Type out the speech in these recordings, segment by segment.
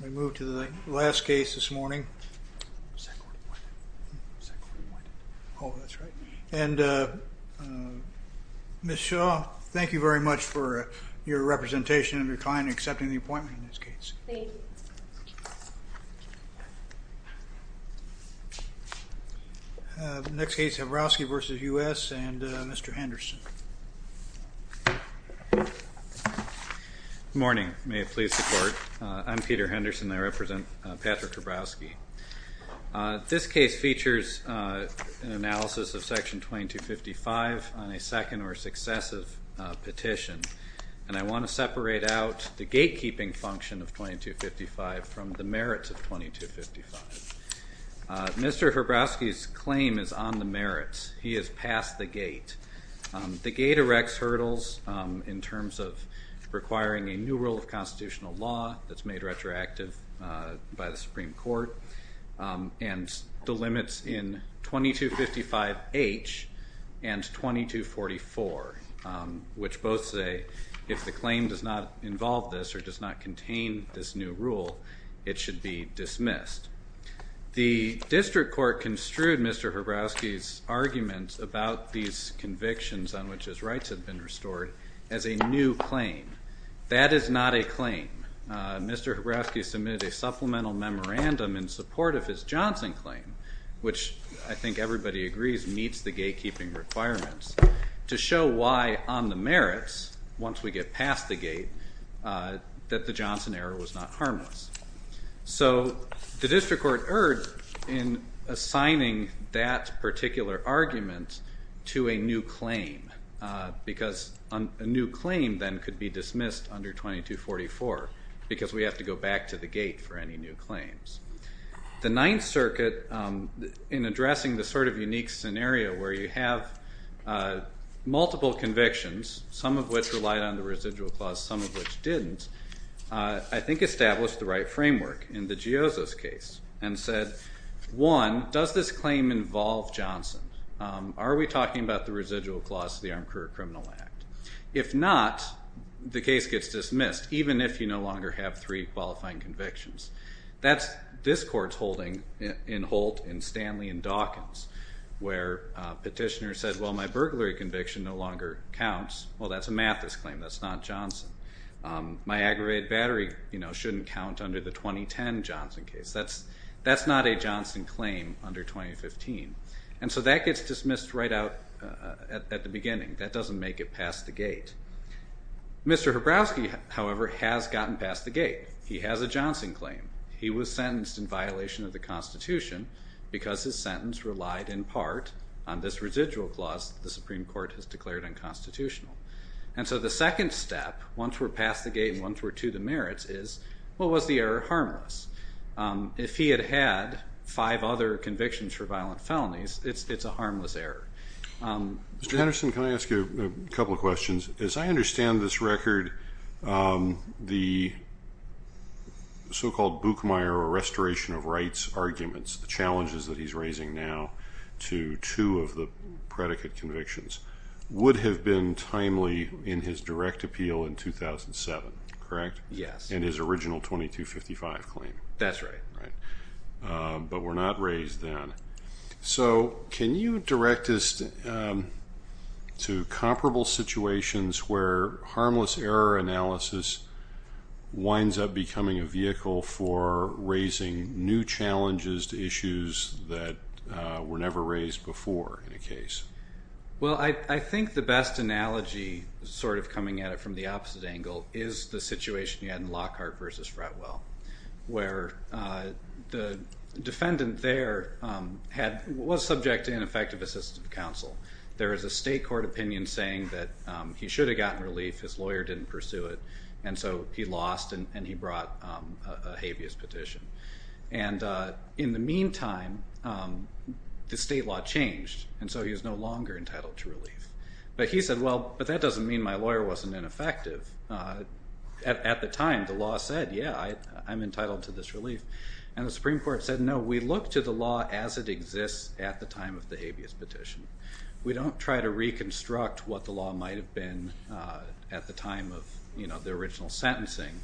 We move to the last case this morning. And Ms. Shaw, thank you very much for your representation of your client accepting the appointment. Next case Hrobowski v. United States and Mr. Henderson. Good morning, may it please the court. I'm Peter Henderson. I represent Patrick Hrobowski. This case features an analysis of Section 2255 on a second or successive petition. And I want to separate out the gatekeeping function of 2255 from the merits of 2255. Mr. Hrobowski's claim is on the merits. He has passed the gate. The gate erects hurdles in terms of requiring a new rule of constitutional law that's made retroactive by the Supreme Court and delimits in 2255H and 2244, which both say if the claim does not involve this or does not contain this new rule, it should be dismissed. The district court construed Mr. Hrobowski's argument about these convictions on which his rights have been restored as a new claim. That is not a claim. Mr. Hrobowski submitted a supplemental memorandum in support of his Johnson claim, which I think everybody agrees meets the gatekeeping requirements, to show why on the merits, once we get past the gate, that the Johnson error was not harmless. So the district court erred in assigning that particular argument to a new claim, because a new claim then could be dismissed under 2244, because we have to go back to the gate for any new claims. The Ninth Circuit, in addressing this sort of unique scenario where you have multiple convictions, some of which relied on the residual clause, some of which didn't, I think established the right framework in the Giozzo's case and said, one, does this claim involve Johnson? Are we talking about the residual clause of the Armed Career Criminal Act? If not, the case gets dismissed, even if you no longer have three qualifying convictions. That's this court's holding in Holt and Stanley and Dawkins, where petitioners said, well, my burglary conviction no longer counts. Well, that's a Mathis claim. That's not Johnson. My aggravated battery shouldn't count under the 2010 Johnson case. That's not a Johnson claim under 2015. And so that gets dismissed right out at the beginning. That doesn't make it past the gate. Mr. Hrabowski, however, has gotten past the gate. He has a Johnson claim. He was sentenced in violation of the Constitution, because his sentence relied in part on this residual clause that the Supreme Court has declared unconstitutional. And so the second step, once we're past the gate and once we're to the merits, is, well, was the error harmless? If he had had five other convictions for violent felonies, it's a harmless error. Mr. Henderson, can I ask you a couple of questions? As I understand this record, the so-called Buchmeier Restoration of Rights arguments, the challenges that he's raising now to two of the predicate convictions, would have been timely in his direct appeal in 2007, correct? Yes. In his original 2255 claim. That's right. But were not raised then. So can you direct us to comparable situations where harmless error analysis winds up becoming a vehicle for raising new challenges to issues that were never raised before in a case? Well, I think the best analogy, sort of coming at it from the opposite angle, is the situation you had in Lockhart v. Fretwell, where the defendant there was subject to ineffective assistive counsel. There is a state court opinion saying that he should have gotten relief. His lawyer didn't pursue it. And so he lost and he brought a habeas petition. And in the meantime, the state law changed, and so he was no longer entitled to relief. But he said, well, but that doesn't mean my lawyer wasn't ineffective. At the time, the law said, yeah, I'm entitled to this relief. And the Supreme Court said, no, we look to the law as it exists at the time of the habeas petition. We don't try to reconstruct what the law might have been at the time of the original sentencing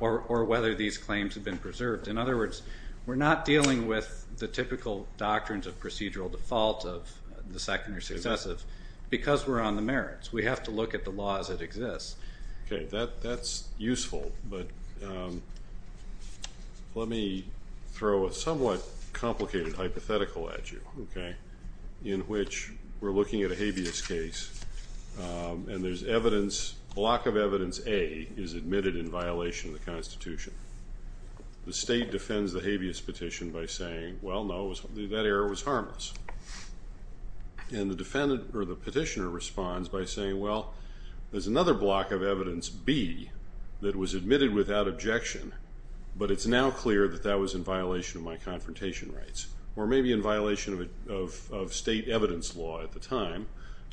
or whether these claims have been preserved. In other words, we're not dealing with the typical doctrines of procedural default of the second or successive because we're on the merits. We have to look at the law as it exists. Okay, that's useful, but let me throw a somewhat complicated hypothetical at you, okay, in which we're looking at a habeas case. And there's evidence, block of evidence A is admitted in violation of the Constitution. The state defends the habeas petition by saying, well, no, that error was harmless. And the defendant or the petitioner responds by saying, well, there's another block of evidence, B, that was admitted without objection, but it's now clear that that was in violation of my confrontation rights or maybe in violation of state evidence law at the time.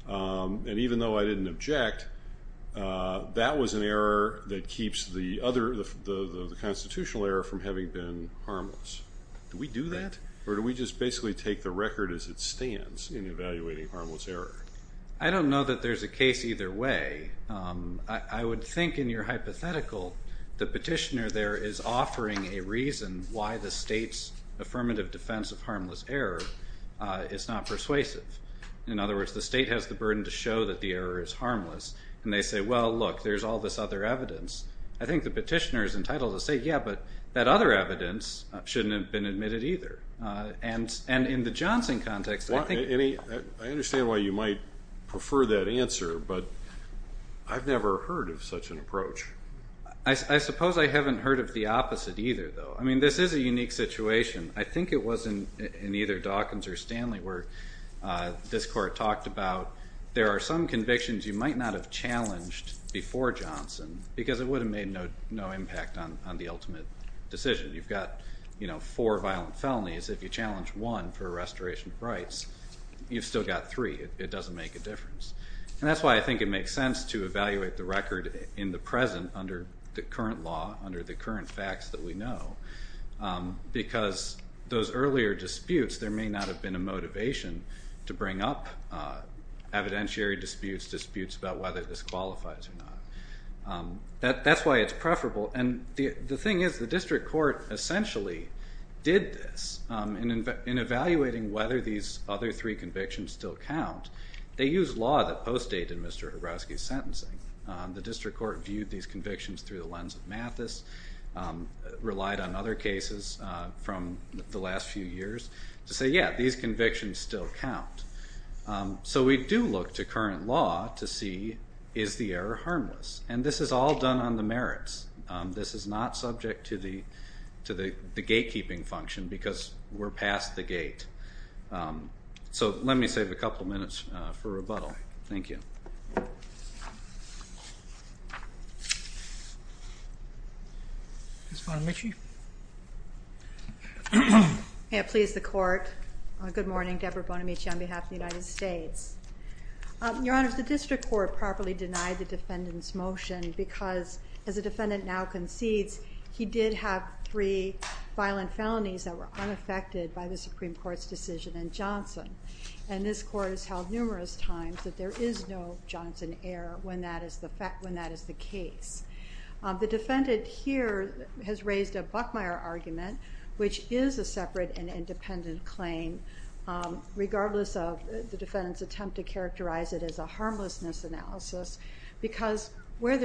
And even though I didn't object, that was an error that keeps the other, the constitutional error from having been harmless. Do we do that or do we just basically take the record as it stands in evaluating harmless error? I don't know that there's a case either way. I would think in your hypothetical the petitioner there is offering a reason why the state's affirmative defense of harmless error is not persuasive. In other words, the state has the burden to show that the error is harmless, and they say, well, look, there's all this other evidence. I think the petitioner is entitled to say, yeah, but that other evidence shouldn't have been admitted either. And in the Johnson context, I think – I understand why you might prefer that answer, but I've never heard of such an approach. I suppose I haven't heard of the opposite either, though. I mean, this is a unique situation. I think it was in either Dawkins or Stanley where this court talked about there are some convictions you might not have challenged before Johnson because it would have made no impact on the ultimate decision. You've got four violent felonies. If you challenge one for a restoration of rights, you've still got three. It doesn't make a difference. And that's why I think it makes sense to evaluate the record in the present under the current law, under the current facts that we know, because those earlier disputes, there may not have been a motivation to bring up evidentiary disputes, disputes about whether this qualifies or not. That's why it's preferable. And the thing is the district court essentially did this in evaluating whether these other three convictions still count. They used law that postdated Mr. Horowski's sentencing. The district court viewed these convictions through the lens of Mathis, relied on other cases from the last few years to say, yeah, these convictions still count. So we do look to current law to see is the error harmless. And this is all done on the merits. This is not subject to the gatekeeping function because we're past the gate. So let me save a couple minutes for rebuttal. Thank you. Ms. Bonamici? Yeah, please, the court. Good morning. Deborah Bonamici on behalf of the United States. Your Honor, the district court properly denied the defendant's motion because, as the defendant now concedes, he did have three violent felonies that were unaffected by the Supreme Court's decision in Johnson. And this court has held numerous times that there is no Johnson error when that is the case. The defendant here has raised a Buckmeyer argument, which is a separate and independent claim, regardless of the defendant's attempt to characterize it as a harmlessness analysis, because in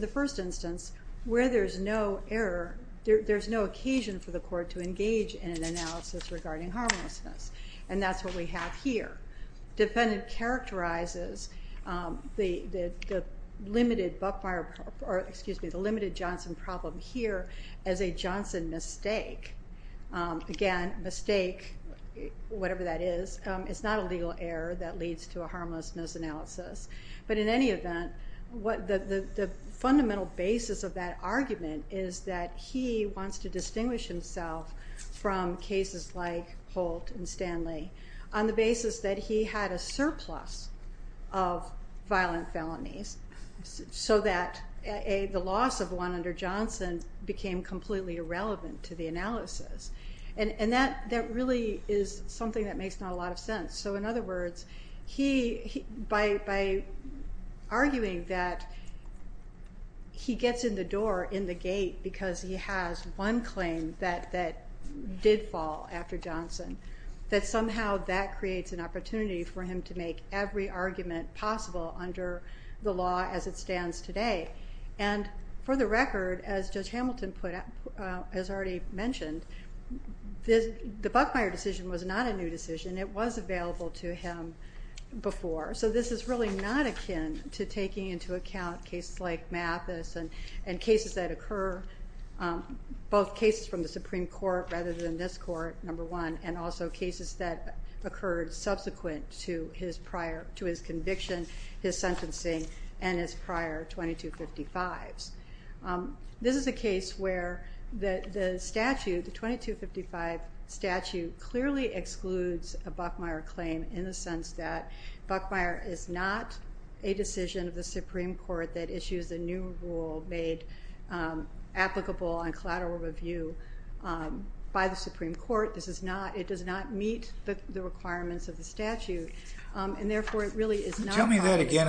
the first instance, where there's no error, there's no occasion for the court to engage in an analysis regarding harmlessness. And that's what we have here. The defendant characterizes the limited Johnson problem here as a Johnson mistake. Again, mistake, whatever that is, it's not a legal error that leads to a harmlessness analysis. But in any event, the fundamental basis of that argument is that he wants to distinguish himself from cases like Holt and Stanley on the basis that he had a surplus of violent felonies so that the loss of one under Johnson became completely irrelevant to the analysis. And that really is something that makes not a lot of sense. So in other words, by arguing that he gets in the door in the gate because he has one claim that did fall after Johnson, that somehow that creates an opportunity for him to make every argument possible under the law as it stands today. And for the record, as Judge Hamilton has already mentioned, the Buckmeyer decision was not a new decision. It was available to him before. So this is really not akin to taking into account cases like Mathis and cases that occur, both cases from the Supreme Court rather than this court, number one, and also cases that occurred subsequent to his conviction, his sentencing, and his prior 2255s. This is a case where the statute, the 2255 statute, clearly excludes a Buckmeyer claim in the sense that Buckmeyer is not a decision of the Supreme Court that issues a new rule made applicable on collateral review by the Supreme Court. It does not meet the requirements of the statute. Tell me that again.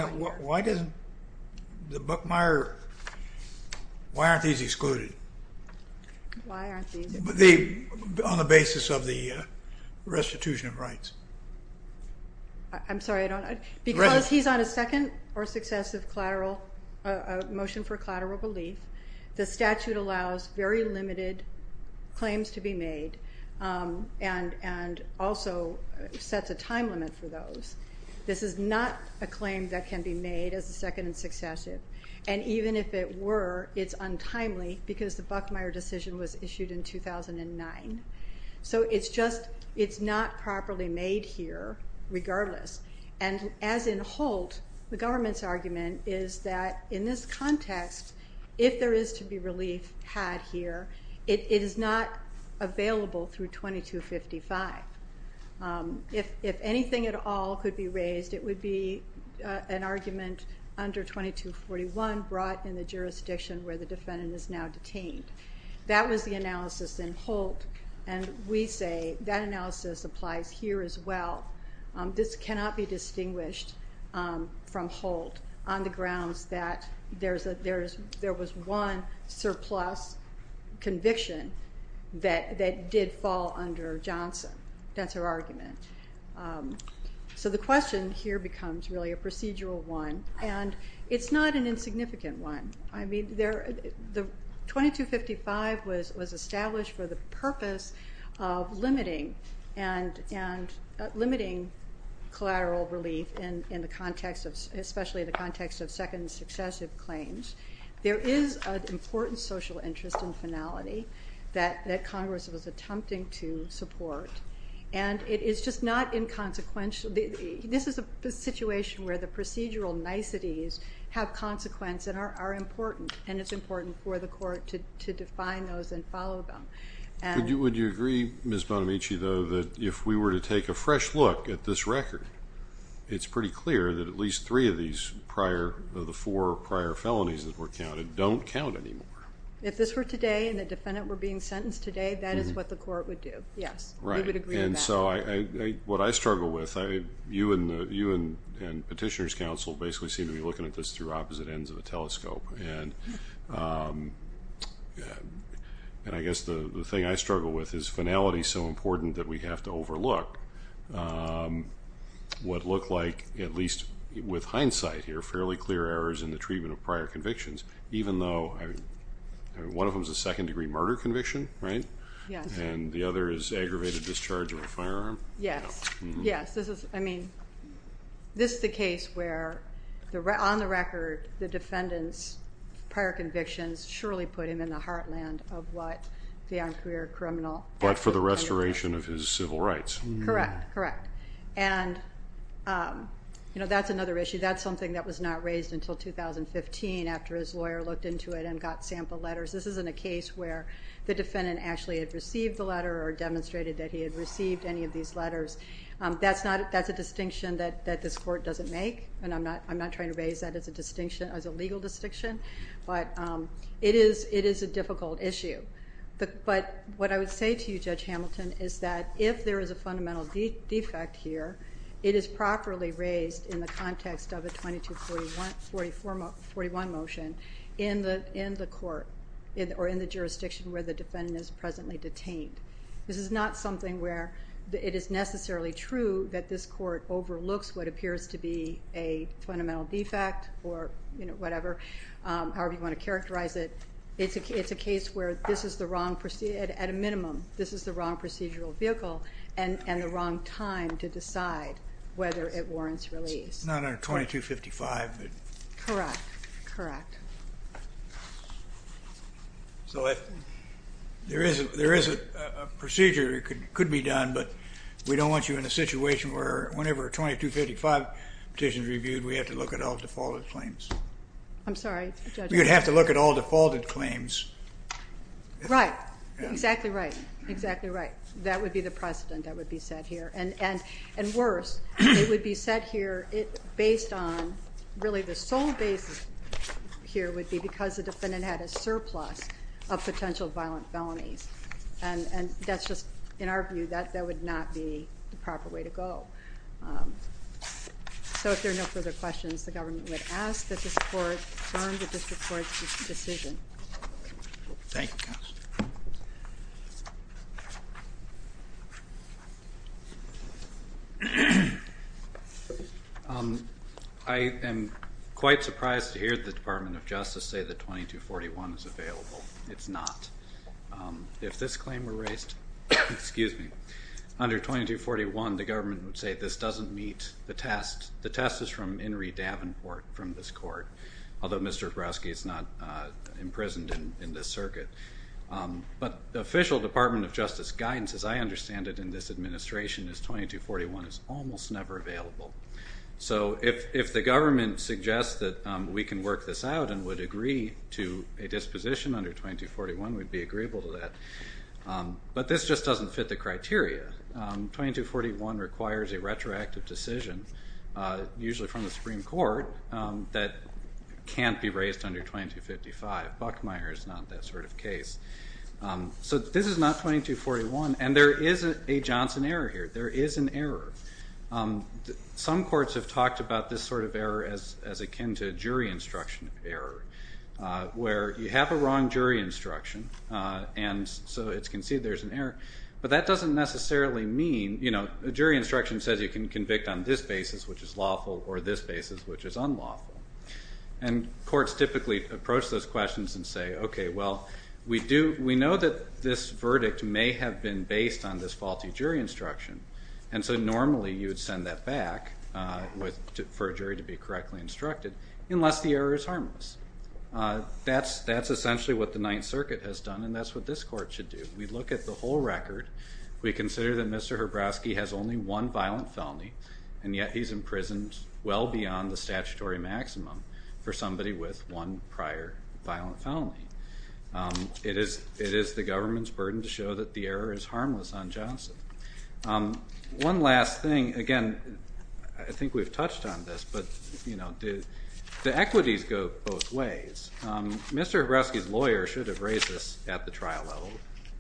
Why aren't these excluded on the basis of the restitution of rights? I'm sorry. Because he's on a second or successive motion for collateral relief, the statute allows very limited claims to be made and also sets a time limit for those. This is not a claim that can be made as a second and successive. And even if it were, it's untimely because the Buckmeyer decision was issued in 2009. So it's just, it's not properly made here regardless. And as in Holt, the government's argument is that in this context, if there is to be relief had here, it is not available through 2255. If anything at all could be raised, it would be an argument under 2241 brought in the jurisdiction where the defendant is now detained. That was the analysis in Holt, and we say that analysis applies here as well. This cannot be distinguished from Holt on the grounds that there was one surplus conviction that did fall under Johnson. That's her argument. So the question here becomes really a procedural one, and it's not an insignificant one. 2255 was established for the purpose of limiting collateral relief, especially in the context of second and successive claims. There is an important social interest and finality that Congress was attempting to support, and it is just not inconsequential. This is a situation where the procedural niceties have consequence and are important, and it's important for the court to define those and follow them. Would you agree, Ms. Bonamici, though, that if we were to take a fresh look at this record, it's pretty clear that at least three of these prior, of the four prior felonies that were counted, don't count anymore? If this were today and the defendant were being sentenced today, that is what the court would do, yes. Right. We would agree on that. And so what I struggle with, you and Petitioner's Counsel basically seem to be looking at this through opposite ends of a telescope, and I guess the thing I struggle with is finality is so important that we have to overlook what looked like, at least with hindsight here, fairly clear errors in the treatment of prior convictions, even though one of them is a second-degree murder conviction, right? Yes. And the other is aggravated discharge of a firearm? Yes. Yes. This is, I mean, this is the case where, on the record, the defendant's prior convictions surely put him in the heartland of what the on-career criminal. But for the restoration of his civil rights. Correct. Correct. And, you know, that's another issue. That's something that was not raised until 2015 after his lawyer looked into it and got sample letters. This isn't a case where the defendant actually had received the letter or demonstrated that he had received any of these letters. That's a distinction that this court doesn't make, and I'm not trying to raise that as a distinction, as a legal distinction. But it is a difficult issue. But what I would say to you, Judge Hamilton, is that if there is a fundamental defect here, it is properly raised in the context of a 2241 motion in the court or in the jurisdiction where the defendant is presently detained. This is not something where it is necessarily true that this court overlooks what appears to be a fundamental defect or whatever, however you want to characterize it. It's a case where this is the wrong, at a minimum, this is the wrong procedural vehicle and the wrong time to decide whether it warrants release. It's not under 2255. Correct. Correct. So there is a procedure that could be done, but we don't want you in a situation where whenever a 2255 petition is reviewed, we have to look at all defaulted claims. I'm sorry, Judge? We would have to look at all defaulted claims. Right. Exactly right. Exactly right. That would be the precedent that would be set here. And worse, it would be set here based on really the sole basis here would be because the defendant had a surplus of potential violent felonies. And that's just, in our view, that would not be the proper way to go. So if there are no further questions, the government would ask that this court adjourn the district court's decision. Thank you, Counselor. I am quite surprised to hear the Department of Justice say that 2241 is available. It's not. If this claim were raised under 2241, the government would say this doesn't meet the test. The test is from Henry Davenport from this court, although Mr. Hrusky is not imprisoned in this circuit. But the official Department of Justice guidance, as I understand it in this administration, is 2241 is almost never available. So if the government suggests that we can work this out and would agree to a disposition under 2241, we'd be agreeable to that. But this just doesn't fit the criteria. 2241 requires a retroactive decision, usually from the Supreme Court, that can't be raised under 2255. Buckmeyer is not that sort of case. So this is not 2241, and there is a Johnson error here. There is an error. Some courts have talked about this sort of error as akin to a jury instruction error, where you have a wrong jury instruction, and so it's conceded there's an error. But that doesn't necessarily mean, you know, a jury instruction says you can convict on this basis, which is lawful, or this basis, which is unlawful. And courts typically approach those questions and say, okay, well, we know that this verdict may have been based on this faulty jury instruction, and so normally you would send that back for a jury to be correctly instructed, unless the error is harmless. That's essentially what the Ninth Circuit has done, and that's what this court should do. If we look at the whole record, we consider that Mr. Hrabowski has only one violent felony, and yet he's imprisoned well beyond the statutory maximum for somebody with one prior violent felony. It is the government's burden to show that the error is harmless on Johnson. One last thing. Again, I think we've touched on this, but, you know, the equities go both ways. Mr. Hrabowski's lawyer should have raised this at the trial level.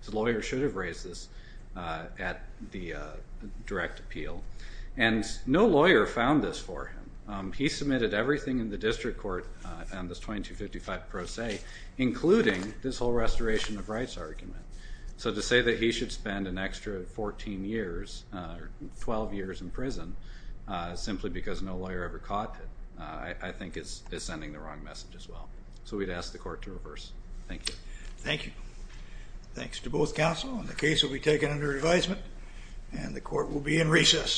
His lawyer should have raised this at the direct appeal, and no lawyer found this for him. He submitted everything in the district court on this 2255 pro se, including this whole restoration of rights argument. So to say that he should spend an extra 14 years or 12 years in prison simply because no lawyer ever caught it, I think is sending the wrong message as well, so we'd ask the court to reverse. Thank you. Thank you. Thanks to both counsel, and the case will be taken under advisement, and the court will be in recess.